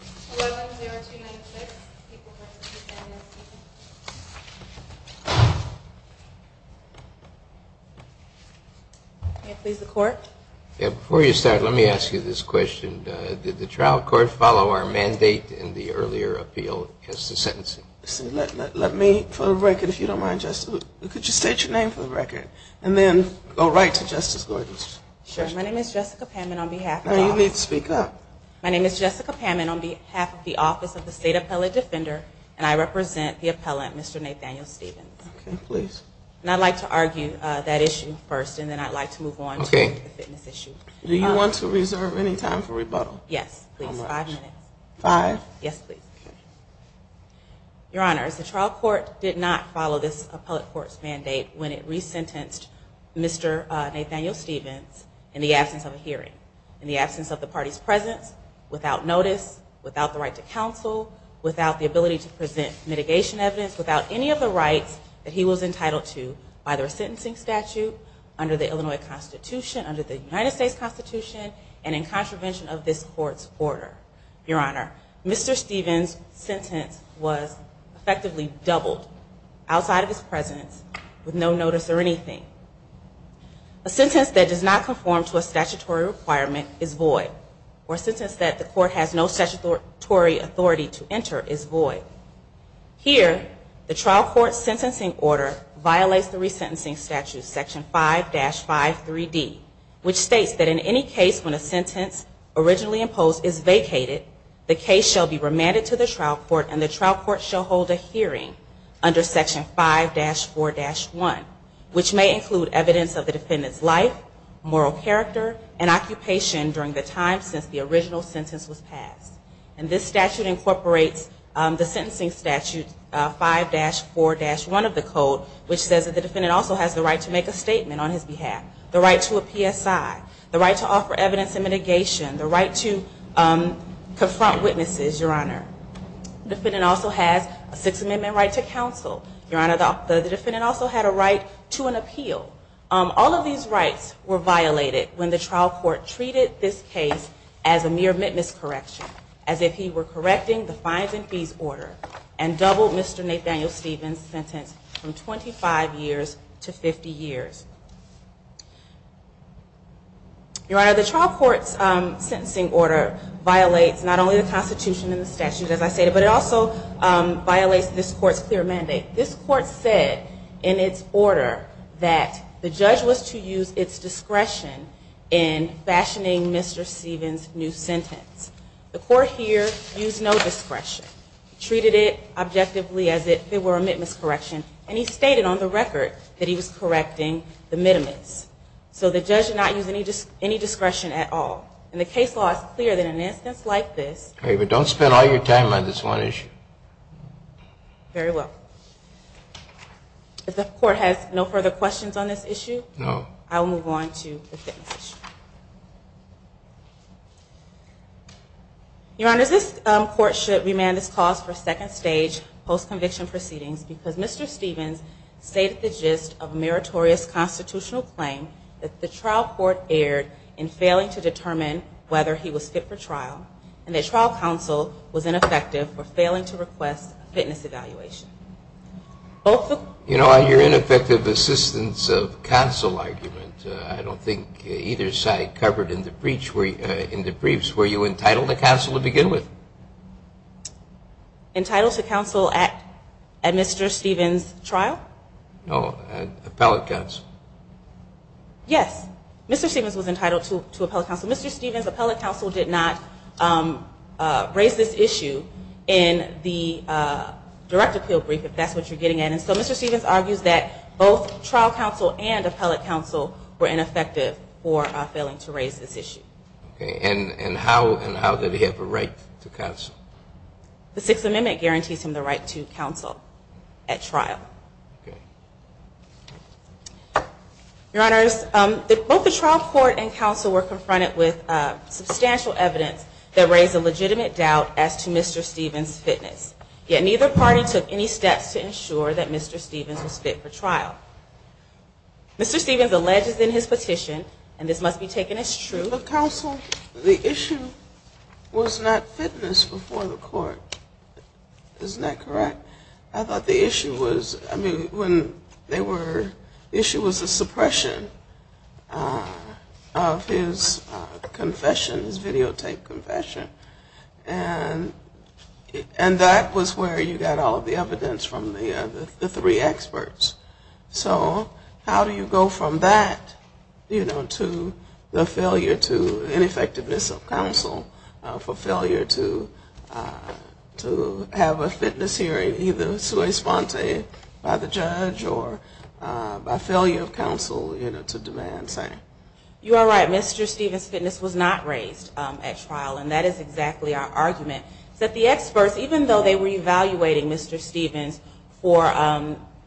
11-0-2-9-6. Can I please the court? Before you start, let me ask you this question. Did the trial court follow our mandate in the earlier appeal as to sentencing? Let me, for the record, if you don't mind, Justice, could you state your name for the record? And then go right to Justice Gordon. My name is Jessica Pammon on behalf of the Office of the State Appellate Defender, and I represent the appellant, Mr. Nathaniel Stephens. And I'd like to argue that issue first, and then I'd like to move on to the fitness issue. Do you want to reserve any time for rebuttal? Yes, please. Five minutes. Five? Yes, please. Your Honors, the trial court did not follow this appellate court's mandate when it resentenced Mr. Nathaniel Stephens in the absence of a hearing, in the absence of the party's presence, without notice, without the right to counsel, without the ability to present mitigation evidence, without any of the rights that he was entitled to by the resentencing statute, under the Illinois Constitution, under the United States Constitution, and in contravention of this court's order. Your Honor, Mr. Stephens' sentence was effectively doubled outside of his presence with no notice or anything. A sentence that does not conform to a statutory requirement is void, or a sentence that the court has no statutory authority to enter is void. Here, the trial court's sentencing order violates the resentencing statute, Section 5-5 3D, which states that in any case when a sentence originally imposed is vacated, the case shall be remanded to the trial court and the trial court shall hold a hearing under Section 5-4-1, which may include evidence of the defendant's life, moral character, and occupation during the time since the original sentence was passed. And this statute incorporates the sentencing statute, 5-4-1 of the code, which says that the defendant also has the right to make a statement on his behalf, the right to a PSI, the right to offer evidence in mitigation, the right to confront witnesses, Your Honor. The defendant also has a Sixth Amendment right to counsel. Your Honor, the defendant also had a right to an appeal. All of these rights were violated when the trial court treated this case as a mere witness correction, as if he were correcting the fines and fees order and doubled Mr. Nathaniel Stevens' sentence from 25 years to 50 years. Your Honor, the trial court's sentencing order violates not only the Constitution and the statute, as I stated, but it also violates this court's clear mandate. This court said in its order that the judge was to use its discretion in fashioning Mr. Stevens' new sentence. The court here used no discretion. It treated it objectively as if it were a witness correction, and he stated on the record that he was correcting the mitimus. So the judge did not use any discretion at all. And the case law is clear that in an instance like this ---- Sotomayor, don't spend all your time on this one issue. Very well. If the court has no further questions on this issue ---- No. I will move on to the fitness issue. Your Honor, this court should remand its cause for second stage post-conviction proceedings because Mr. Stevens stated the gist of a meritorious constitutional claim that the trial court erred in failing to determine whether he was fit for trial and that trial counsel was ineffective for failing to request a fitness evaluation. You know, on your ineffective assistance of counsel argument, I don't think either side covered in the briefs, were you entitled to counsel to begin with? Entitled to counsel at Mr. Stevens' trial? No, appellate counsel. Yes. Mr. Stevens was entitled to appellate counsel. Mr. Stevens' appellate counsel did not raise this issue in the direct appeal brief, if that's what you're getting at. And so Mr. Stevens argues that both trial counsel and appellate counsel were ineffective for failing to raise this issue. Okay. And how did he have a right to counsel? The Sixth Amendment guarantees him the right to counsel at trial. Okay. Your Honors, both the trial court and counsel were confronted with substantial evidence that raised a legitimate doubt as to Mr. Stevens' fitness. Yet neither party took any steps to ensure that Mr. Stevens was fit for trial. Mr. Stevens alleges in his petition, and this must be taken as true. Counsel, the issue was not fitness before the court. Isn't that correct? I thought the issue was, I mean, when they were, the issue was the suppression of his confession, his videotaped confession, and that was where you got all of the evidence from the three experts. So how do you go from that, you know, to the failure to, ineffectiveness of counsel, for failure to have a fitness hearing either corresponded by the judge or by failure of counsel, you know, to demand same? You are right. Mr. Stevens' fitness was not raised at trial, and that is exactly our argument, that the experts, even though they were evaluating Mr. Stevens for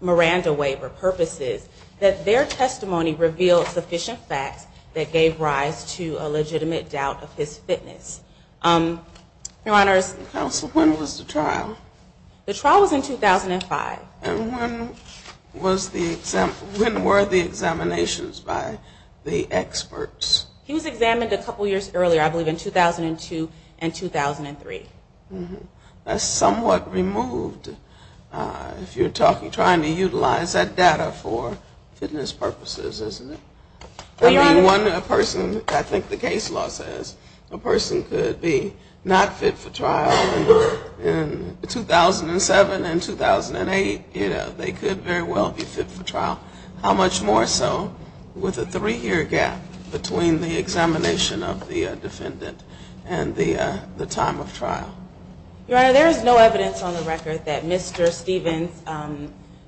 Miranda waiver purposes, that their testimony revealed sufficient facts that gave rise to a legitimate doubt of his fitness. Your Honors. Counsel, when was the trial? The trial was in 2005. And when was the, when were the examinations by the experts? He was examined a couple years earlier, I believe in 2002 and 2003. That's somewhat removed if you're talking, trying to utilize that data for fitness purposes, isn't it? I mean, one person, I think the case law says, a person could be not fit for trial in 2007 and 2008. You know, they could very well be fit for trial. How much more so with a three-year gap between the examination of the defendant and the time of trial? Your Honor, there is no evidence on the record that Mr. Stevens'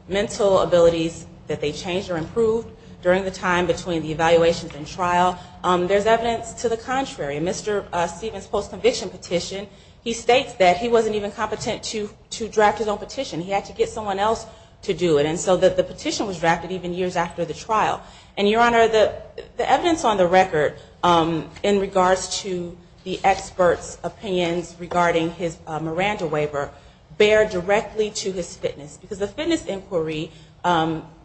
mental abilities, that they changed or improved during the time between the evaluations and trial. There's evidence to the contrary. In Mr. Stevens' post-conviction petition, he states that he wasn't even competent to draft his own petition. He had to get someone else to do it. And so the petition was drafted even years after the trial. And, Your Honor, the evidence on the record in regards to the experts' opinions regarding his Miranda waiver, bear directly to his fitness. Because the fitness inquiry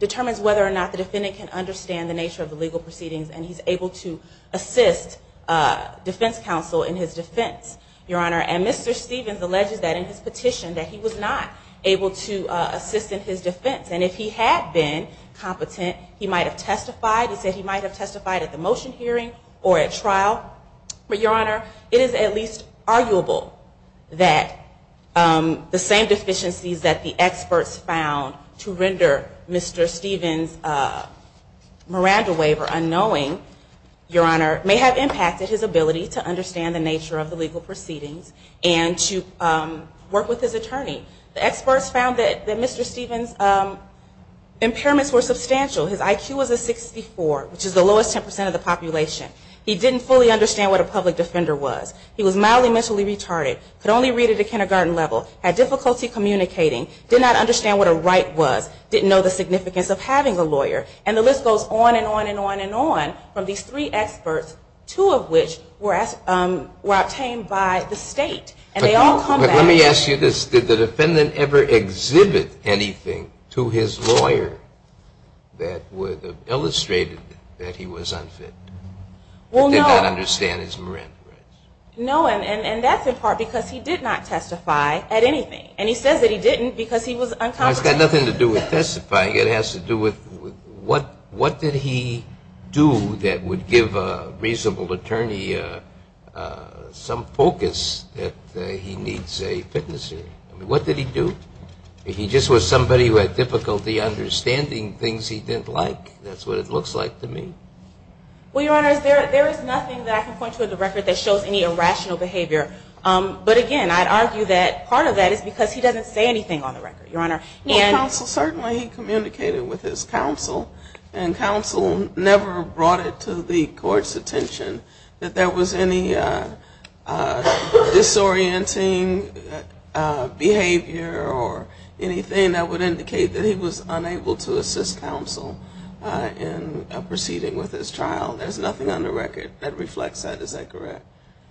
determines whether or not the defendant can understand the nature of the legal proceedings and he's able to assist defense counsel in his defense, Your Honor. And Mr. Stevens alleges that in his petition that he was not able to assist in his defense. And if he had been competent, he might have testified. He said he might have testified at the motion hearing or at trial. But, Your Honor, it is at least arguable that the same deficiencies that the experts found to render Mr. Stevens' Miranda waiver unknowing, Your Honor, may have impacted his ability to understand the nature of the legal proceedings and to work with his attorney. The experts found that Mr. Stevens' impairments were substantial. His IQ was a 64, which is the lowest 10% of the population. He didn't fully understand what a public defender was. He was mildly mentally retarded, could only read at a kindergarten level, had difficulty communicating, did not understand what a right was, didn't know the significance of having a lawyer. And the list goes on and on and on and on from these three experts, two of which were obtained by the state. And they all come back. Let me ask you this. Did the defendant ever exhibit anything to his lawyer that would have illustrated that he was unfit? He did not understand his Miranda rights. No, and that's in part because he did not testify at anything. And he says that he didn't because he was uncompetent. No, it's got nothing to do with testifying. It has to do with what did he do that would give a reasonable attorney some focus that he needs a fitness. What did he do? He just was somebody who had difficulty understanding things he didn't like. That's what it looks like to me. Well, Your Honor, there is nothing that I can point to in the record that shows any irrational behavior. But again, I'd argue that part of that is because he doesn't say anything on the record, Your Honor. Well, counsel certainly communicated with his counsel. And counsel never brought it to the court's attention that there was any disorienting behavior or anything that would indicate that he was unable to assist counsel in proceeding with his trial. There's nothing on the record that reflects that. Is that correct?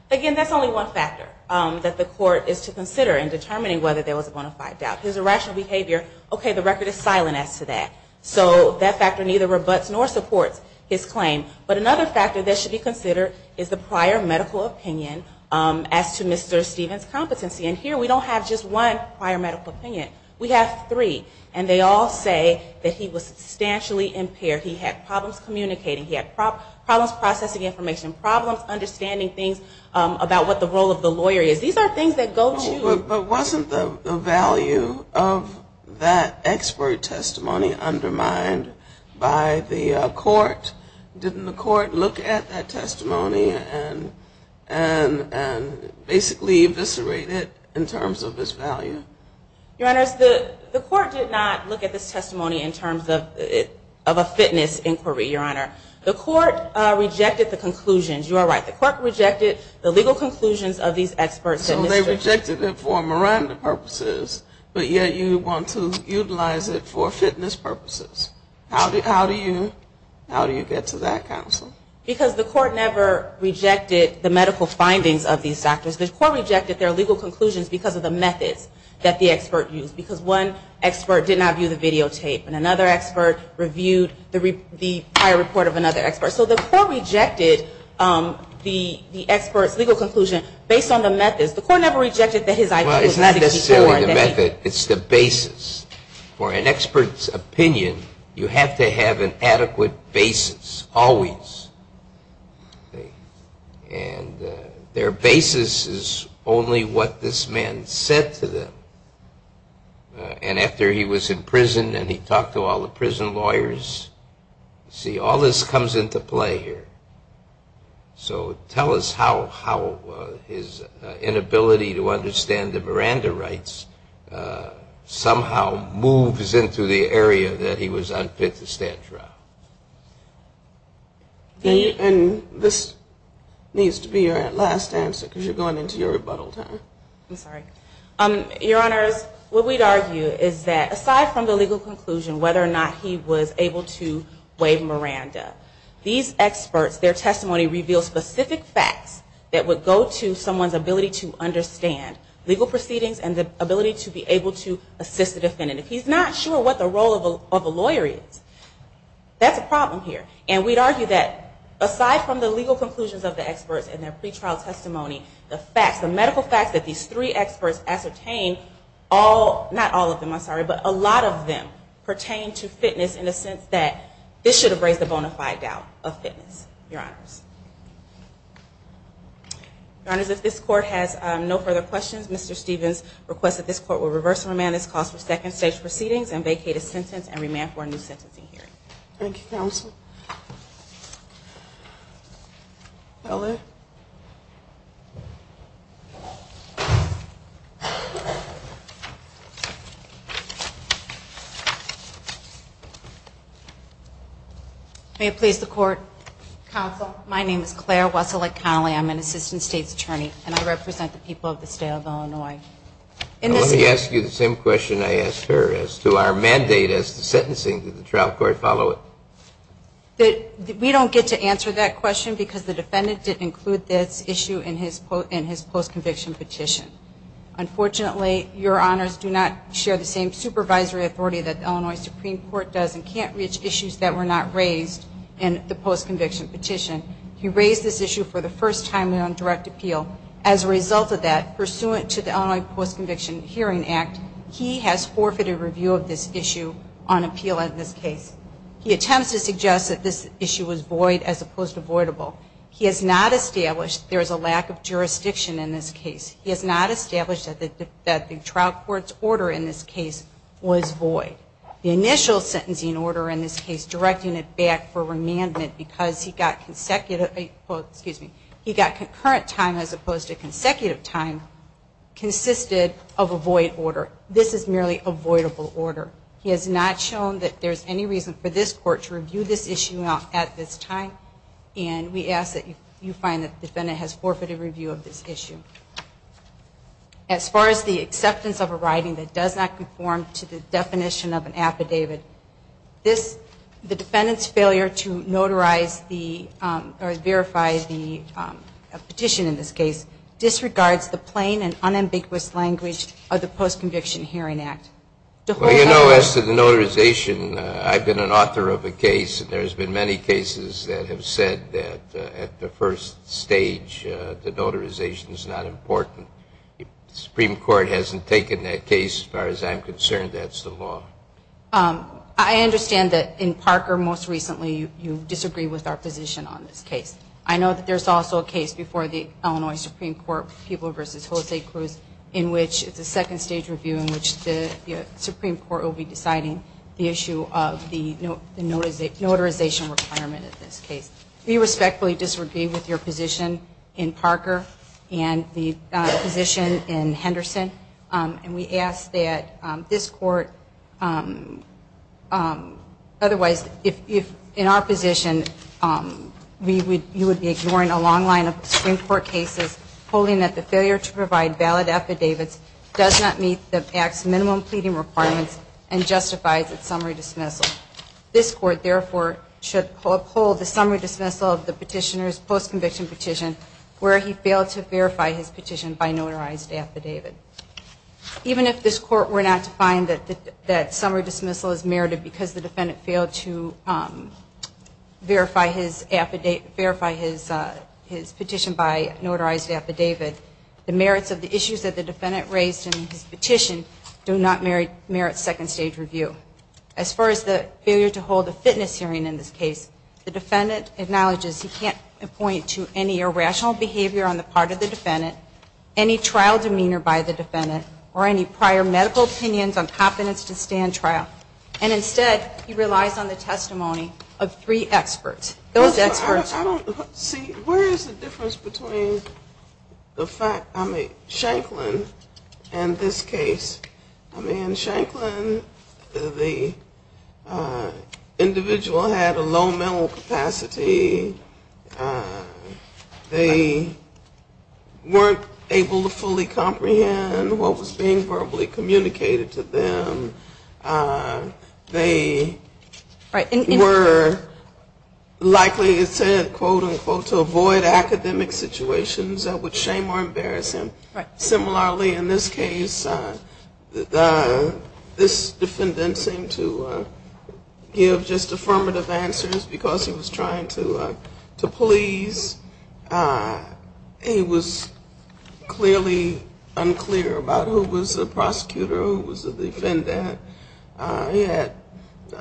Again, that's only one factor that the court is to consider in determining whether there was a bona fide doubt. His irrational behavior, okay, the record is silent as to that. So that factor neither rebuts nor supports his claim. But another factor that should be considered is the prior medical opinion as to Mr. Stevens' competency. And here we don't have just one prior medical opinion. We have three. And they all say that he was substantially impaired. He had problems communicating. He had problems processing information. Problems understanding things about what the role of the lawyer is. These are things that go to you. But wasn't the value of that expert testimony undermined by the court? Didn't the court look at that testimony and basically eviscerate it in terms of its value? Your Honor, the court did not look at this testimony in terms of a fitness inquiry, Your Honor. The court rejected the conclusions. You are right. The court rejected the legal conclusions of these experts. So they rejected it for Miranda purposes, but yet you want to utilize it for fitness purposes. How do you get to that, counsel? Because the court never rejected the medical findings of these doctors. The court rejected their legal conclusions because of the methods that the expert used. Because one expert did not view the videotape. And another expert reviewed the prior report of another expert. So the court rejected the expert's legal conclusion based on the methods. The court never rejected that his ID was not 64. Well, it's not necessarily the method. It's the basis. For an expert's opinion, you have to have an adequate basis, always. And their basis is only what this man said to them. And after he was in prison and he talked to all the prison lawyers, see, all this comes into play here. So tell us how his inability to understand the Miranda rights somehow moves into the area that he was unfit to stand trial. And this needs to be your last answer, because you're going into your rebuttal time. I'm sorry. Your Honors, what we'd argue is that aside from the legal conclusion, whether or not he was able to waive Miranda, these experts, their testimony reveals specific facts that would go to someone's ability to understand legal proceedings and the ability to be able to assist the defendant. If he's not sure what the role of a lawyer is, that's a problem here. And we'd argue that aside from the legal conclusions of the experts and their pretrial testimony, the medical facts that these three experts ascertain, not all of them, I'm sorry, but a lot of them pertain to fitness in the sense that this should have raised the bona fide doubt of fitness. Your Honors, if this court has no further questions, Mr. Stevens requests that this court will reverse and remand this clause for second stage proceedings and vacate a sentence and remand for a new sentencing hearing. Thank you, Counsel. May it please the Court. Counsel, my name is Claire Wesselick Connelly. I'm an Assistant State's Attorney, and I represent the people of the State of Illinois. Let me ask you the same question I asked her as to our mandate as to sentencing. Did the trial court follow it? We don't get to answer that question because the defendant didn't include this issue in his post-conviction petition. Unfortunately, Your Honors do not share the same supervisory authority that the Illinois Supreme Court does and can't reach issues that were not raised in the post-conviction petition. He raised this issue for the first time on direct appeal. As a result of that, pursuant to the Illinois Post-Conviction Hearing Act, he has forfeited review of this issue on appeal in this case. He attempts to suggest that this issue was void as opposed to voidable. He has not established there is a lack of jurisdiction in this case. He has not established that the trial court's order in this case was void. The initial sentencing order in this case, directing it back for remandment, because he got concurrent time as opposed to consecutive time, consisted of a void order. This is merely a voidable order. He has not shown that there is any reason for this Court to review this issue at this time. And we ask that you find that the defendant has forfeited review of this issue. As far as the acceptance of a writing that does not conform to the definition of an affidavit, the defendant's failure to notarize the or verify the petition in this case disregards the plain and unambiguous language of the Post-Conviction Hearing Act. Well, you know, as to the notarization, I've been an author of a case, and there's been many cases that have said that at the first stage, the notarization is not important. If the Supreme Court hasn't taken that case, as far as I'm concerned, that's the law. I understand that in Parker most recently you disagreed with our position on this case. I know that there's also a case before the Illinois Supreme Court, People v. Jose Cruz, in which it's a second stage review in which the Supreme Court will be deciding the issue of the notarization requirement of this case. We respectfully disagree with your position in Parker and the position in Henderson. And we ask that this Court, otherwise, if in our position, you would be ignoring a long line of Supreme Court cases, holding that the failure to provide valid affidavits does not meet the act's minimum pleading requirements and justifies its summary dismissal. This Court, therefore, should uphold the summary dismissal of the petitioner's post-conviction petition where he failed to verify his petition by notarized affidavit. Even if this Court were not to find that summary dismissal is merited because the defendant failed to verify his petition by notarized affidavit, the merits of the issues that the defendant raised in his petition do not merit second stage review. As far as the failure to hold a fitness hearing in this case, the defendant acknowledges he can't point to any irrational behavior on the part of the defendant, any trial demeanor by the defendant, or any prior medical opinions on the testimony of three experts. Those experts... See, where is the difference between the fact, I mean, Shanklin and this case? I mean, in Shanklin, the individual had a low mental capacity. They weren't able to fully comprehend what was being verbally communicated to them. They were likely, quote, unquote, to avoid academic situations that would shame or embarrass him. Similarly, in this case, this defendant seemed to give just affirmative answers because he was trying to please. He was clearly unclear about who was the prosecutor, who was the defendant. He had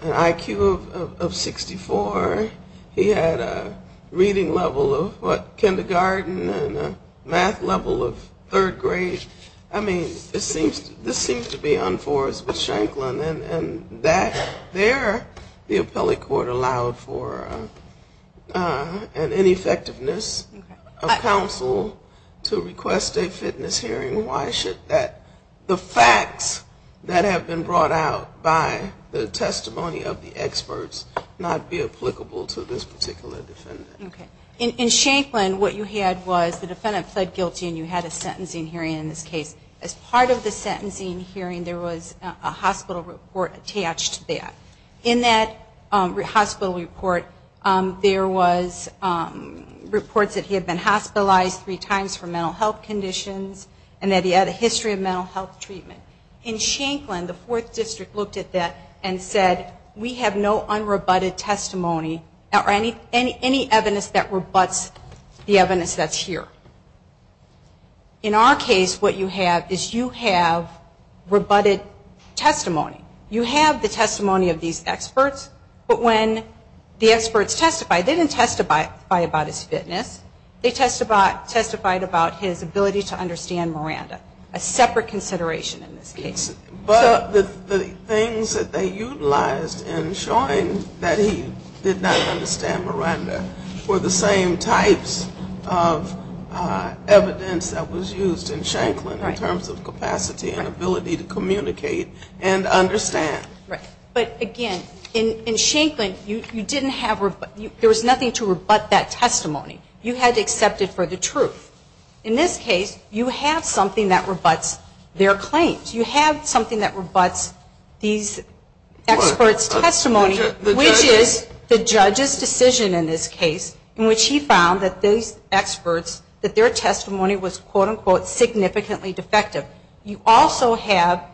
an IQ of 64. He had a reading level of, what, kindergarten and a math level of third grade. I mean, this seems to be unforced with Shanklin. And there, the appellate court allowed for an ineffectiveness of counsel to request a fitness hearing. Why should the facts that have been brought out by the testimony of the experts not be applicable to this particular defendant? In Shanklin, what you had was the defendant pled guilty and you had a sentencing hearing in this case. As part of the sentencing hearing, there was a hospital report attached to that. In that hospital report, there was reports that he had been hospitalized three times for mental health conditions. And that he had a history of mental health treatment. In Shanklin, the Fourth District looked at that and said, we have no unrebutted testimony or any evidence that rebuts the evidence that's here. In our case, what you have is you have rebutted testimony. You have the testimony of these experts, but when the experts testified, they didn't testify about his fitness. They testified about his ability to understand Miranda, a separate consideration in this case. But the things that they utilized in showing that he did not understand Miranda were the same types of evidence that was used in Shanklin in terms of capacity and ability to communicate and understand. Right. But again, in Shanklin, there was nothing to rebut that testimony. You had to accept it for the truth. In this case, you have something that rebuts their claims. You have something that rebuts these experts' testimony, which is the judge's decision in this case, in which he found that these experts, that their testimony was, quote, unquote, significantly defective. You also have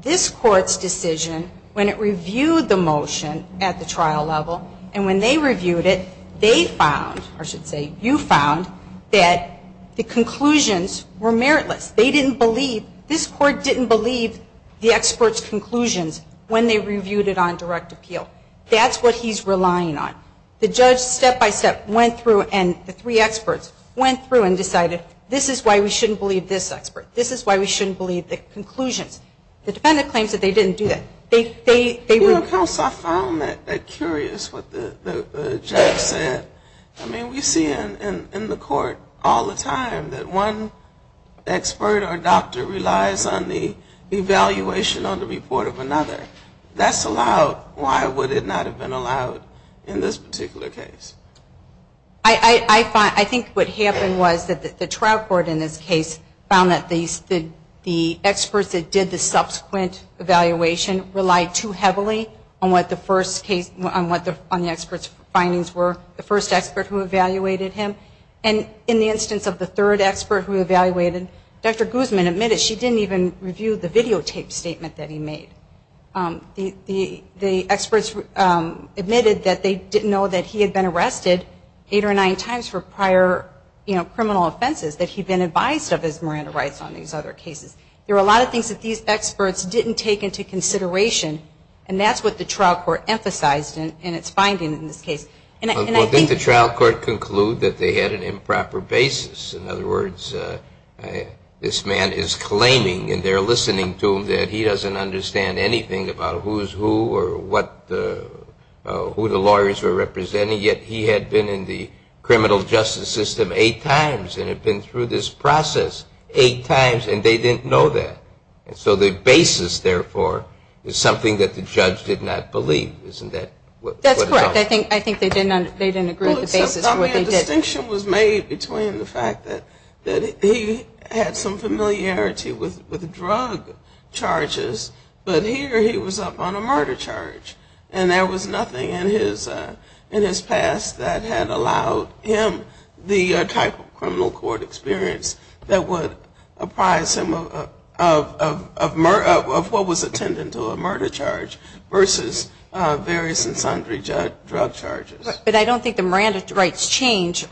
this court's decision when it reviewed the motion at the trial level. And when they reviewed it, they found, or I should say you found, that the conclusions were meritless. They didn't believe, this court didn't believe the experts' conclusions when they reviewed it on direct appeal. That's what he's relying on. The judge, step by step, went through and the three experts went through and decided, this is why we shouldn't believe this expert. This is why we shouldn't believe the conclusions. The defendant claims that they didn't do that. You know, counsel, I found that curious, what the judge said. I mean, we see in the court all the time that one expert or doctor relies on the evaluation on the report of another. That's allowed. Why would it not have been allowed in this particular case? I think what happened was that the trial court in this case found that the experts that did the subsequent evaluation relied too heavily on what the experts' findings were, the first expert who evaluated him. And in the instance of the third expert who evaluated, Dr. Guzman admitted she didn't even review the videotape statement that he made. The experts admitted that they didn't know that he had been arrested eight or nine times for prior criminal offenses, that he'd been advised of his Miranda rights on these other cases. There were a lot of things that these experts didn't take into consideration, and that's what the trial court emphasized in its finding in this case. Didn't the trial court conclude that they had an improper basis? In other words, this man is claiming, and they're listening to him, that he doesn't understand anything about who's who or who the lawyers were representing, yet he had been in the criminal justice system eight times and had been through this process eight times, and they didn't know that. And so the basis, therefore, is something that the judge did not believe. Isn't that what it's all about? That's correct. I think they didn't agree with the basis. Well, except the distinction was made between the fact that he had some familiarity with drug charges, but here he was up on a murder charge. And there was nothing in his past that had allowed him the type of criminal court experience that would apprise him of what was attendant to a murder charge versus various and sundry drug charges. But I don't think the Miranda rights change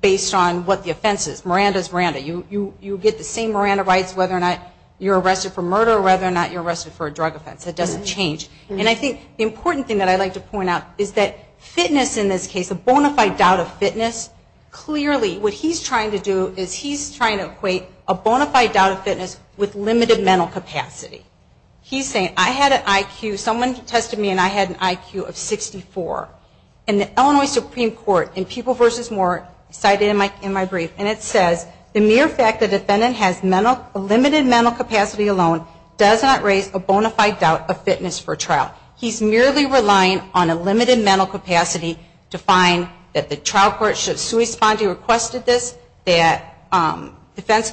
based on what the offense is. Miranda is Miranda. You get the same Miranda rights whether or not you're arrested for murder or whether or not you're arrested for a drug offense. It doesn't change. And I think the important thing that I'd like to point out is that fitness in this case, a bona fide doubt of fitness, clearly what he's trying to do is he's trying to equate a bona fide doubt of fitness with limited mental capacity. He's saying, I had an IQ, someone tested me and I had an IQ of 64. And the Illinois Supreme Court in People v. Moore cited in my brief, and it says, the mere fact that a defendant has limited mental capacity alone does not raise a bona fide doubt of fitness for trial. He's merely relying on a limited mental capacity to find that the trial court should correspond to your request of this, that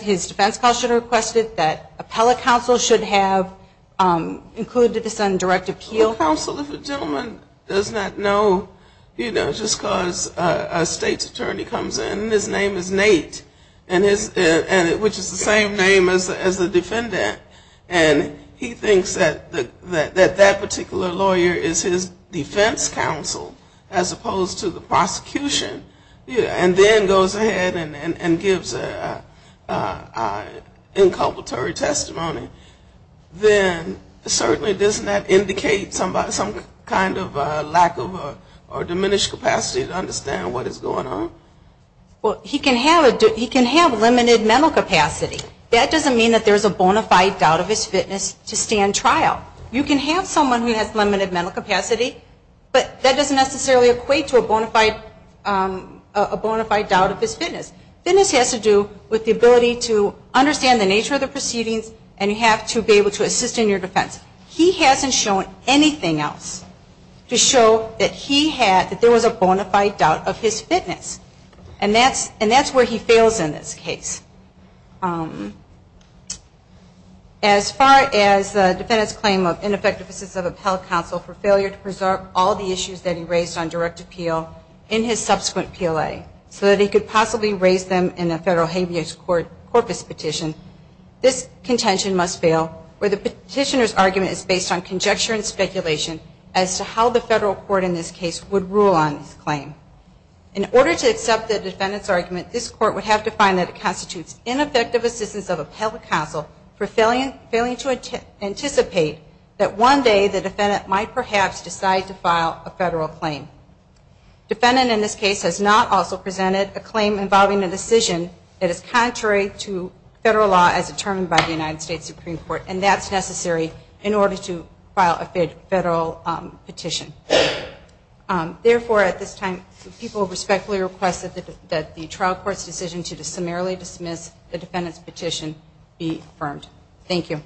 his defense counsel should have requested that appellate counsel should have included this on direct appeal. The counsel, if a gentleman does not know, you know, just because a state's attorney comes in, his name is Nate, which is the same name as the defendant. And he thinks that that particular lawyer is his defense counsel as opposed to the prosecution. And then goes ahead and gives an inculpatory testimony. Then certainly doesn't that indicate some kind of lack of or diminished capacity to understand what is going on? Well, he can have limited mental capacity. That doesn't mean that there's a bona fide doubt of his fitness to stand trial. You can have someone who has limited mental capacity, but that doesn't necessarily equate to a bona fide doubt of his fitness. Fitness has to do with the ability to understand the nature of the proceedings and you have to be able to assist in your defense. He hasn't shown anything else to show that he had, that there was a bona fide doubt of his fitness. And that's where he fails in this case. As far as the defendant's claim of ineffective assistance of appellate counsel for failure to preserve all the issues that he raised on direct appeal in his subsequent PLA so that he could possibly raise them in a federal habeas corpus petition, this contention must fail where the petitioner's argument is based on conjecture and speculation as to how the federal court in this case would rule on this claim. In order to accept the defendant's argument, this court would have to find that it constitutes ineffective assistance of appellate counsel for failing to anticipate that one day the defendant might perhaps decide to file a federal claim. Defendant in this case has not also presented a claim involving a decision that is contrary to federal law as determined by the United States Supreme Court and that's necessary in order to file a federal petition. Therefore, at this time, people respectfully request that the trial court's decision to summarily dismiss the defendant's petition be affirmed. Thank you.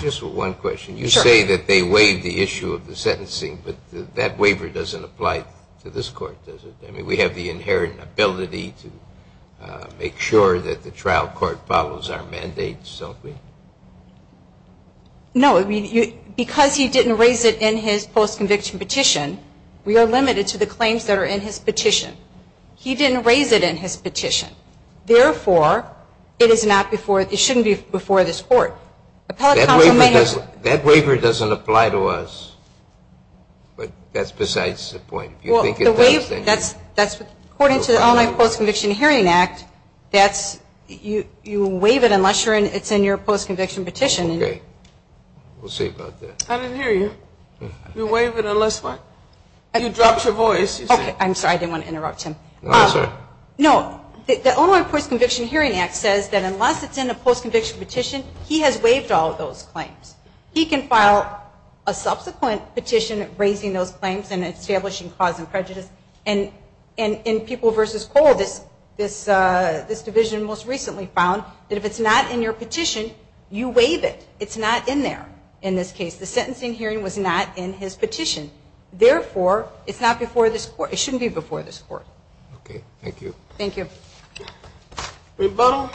Just one question. You say that they waive the issue of the sentencing, but that waiver doesn't apply to this court, does it? I mean, we have the inherent ability to make sure that the trial court follows our mandates, don't we? No, because he didn't raise it in his post-conviction petition, we are limited to the claims that are in his petition. He didn't raise it in his petition. Therefore, it is not before, it shouldn't be before this court. That waiver doesn't apply to us, but that's besides the point. According to the Online Post-Conviction Hearing Act, you waive it unless it's in your post-conviction petition. Okay. We'll see about that. I didn't hear you. You waive it unless what? You dropped your voice. Okay. I'm sorry. I didn't want to interrupt him. No, I'm sorry. No, the Online Post-Conviction Hearing Act says that unless it's in a post-conviction petition, he has waived all of those claims. He can file a subsequent petition raising those claims and establishing cause and prejudice. And in People v. Cole, this division most recently found that if it's not in your petition, you waive it. It's not in there in this case. The sentencing hearing was not in his petition. Therefore, it's not before this court. It shouldn't be before this court. Okay. Thank you. Your Honor,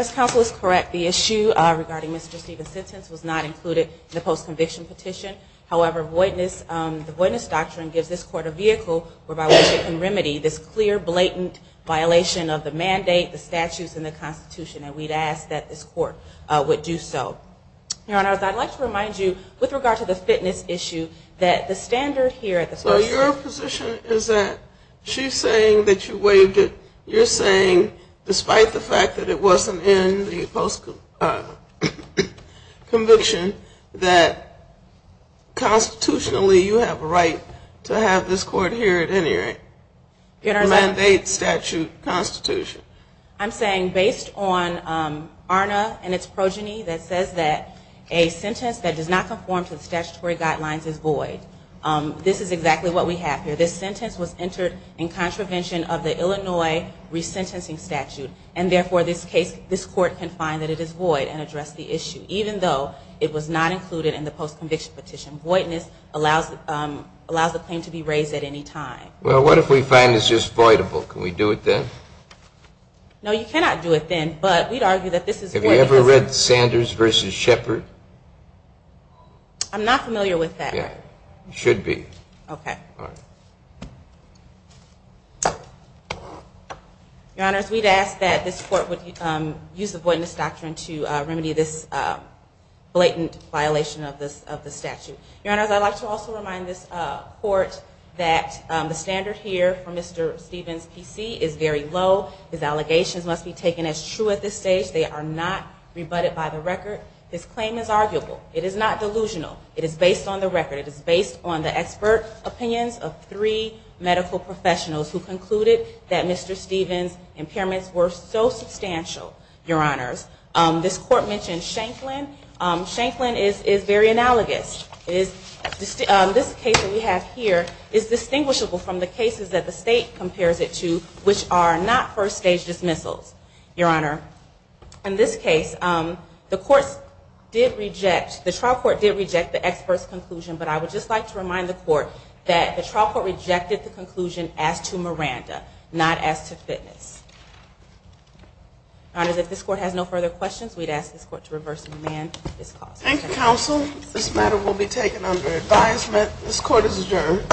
this counsel is correct. The issue regarding Mr. Stevens' sentence was not included in the post-conviction petition. However, the Voidness Doctrine gives this court a vehicle whereby we can remedy this clear, blatant violation of the mandate, the statutes, and the Constitution. And we'd ask that this court would do so. Your Honor, I'd like to remind you, with regard to the fitness issue, that the standard here at the First... So your position is that she's saying that you waived it. You're saying, despite the fact that it wasn't in the post-conviction, that constitutionally you have a right to have this court here at any rate mandate statute, Constitution. I'm saying, based on ARNA and its progeny, that says that a sentence that does not conform to the statutory guidelines is void. This is exactly what we have here. This sentence was entered in contravention of the Illinois resentencing statute. And therefore, this court can find that it is void and address the issue, even though it was not included in the post-conviction petition. Voidness allows the claim to be raised at any time. Well, what if we find it's just voidable? Can we do it then? No, you cannot do it then, but we'd argue that this is void because... Have you ever read Sanders v. Shepard? I'm not familiar with that. You should be. Your Honor, we'd ask that this court would use the voidness doctrine to remedy this blatant violation of the statute. Your Honors, I'd like to also remind this court that the standard here for Mr. Stevens' PC is very low. His allegations must be taken as true at this stage. They are not rebutted by the record. His claim is arguable. It is not delusional. It is based on the record. It is based on the expert opinions of three medical professionals who concluded that Mr. Stevens' impairments were so substantial, Your Honors. This court mentioned Shanklin. Shanklin is very analogous. This case that we have here is distinguishable from the cases that the state compares it to, which are not first stage dismissals, Your Honor. In this case, the trial court did reject the expert's conclusion, but I would just like to remind the court that the trial court rejected the conclusion as to Miranda, not as to fitness. Your Honors, if this court has no further questions, we'd ask this court to reverse and amend this clause. Thank you, Counsel. This matter will be taken under advisement. This court is adjourned.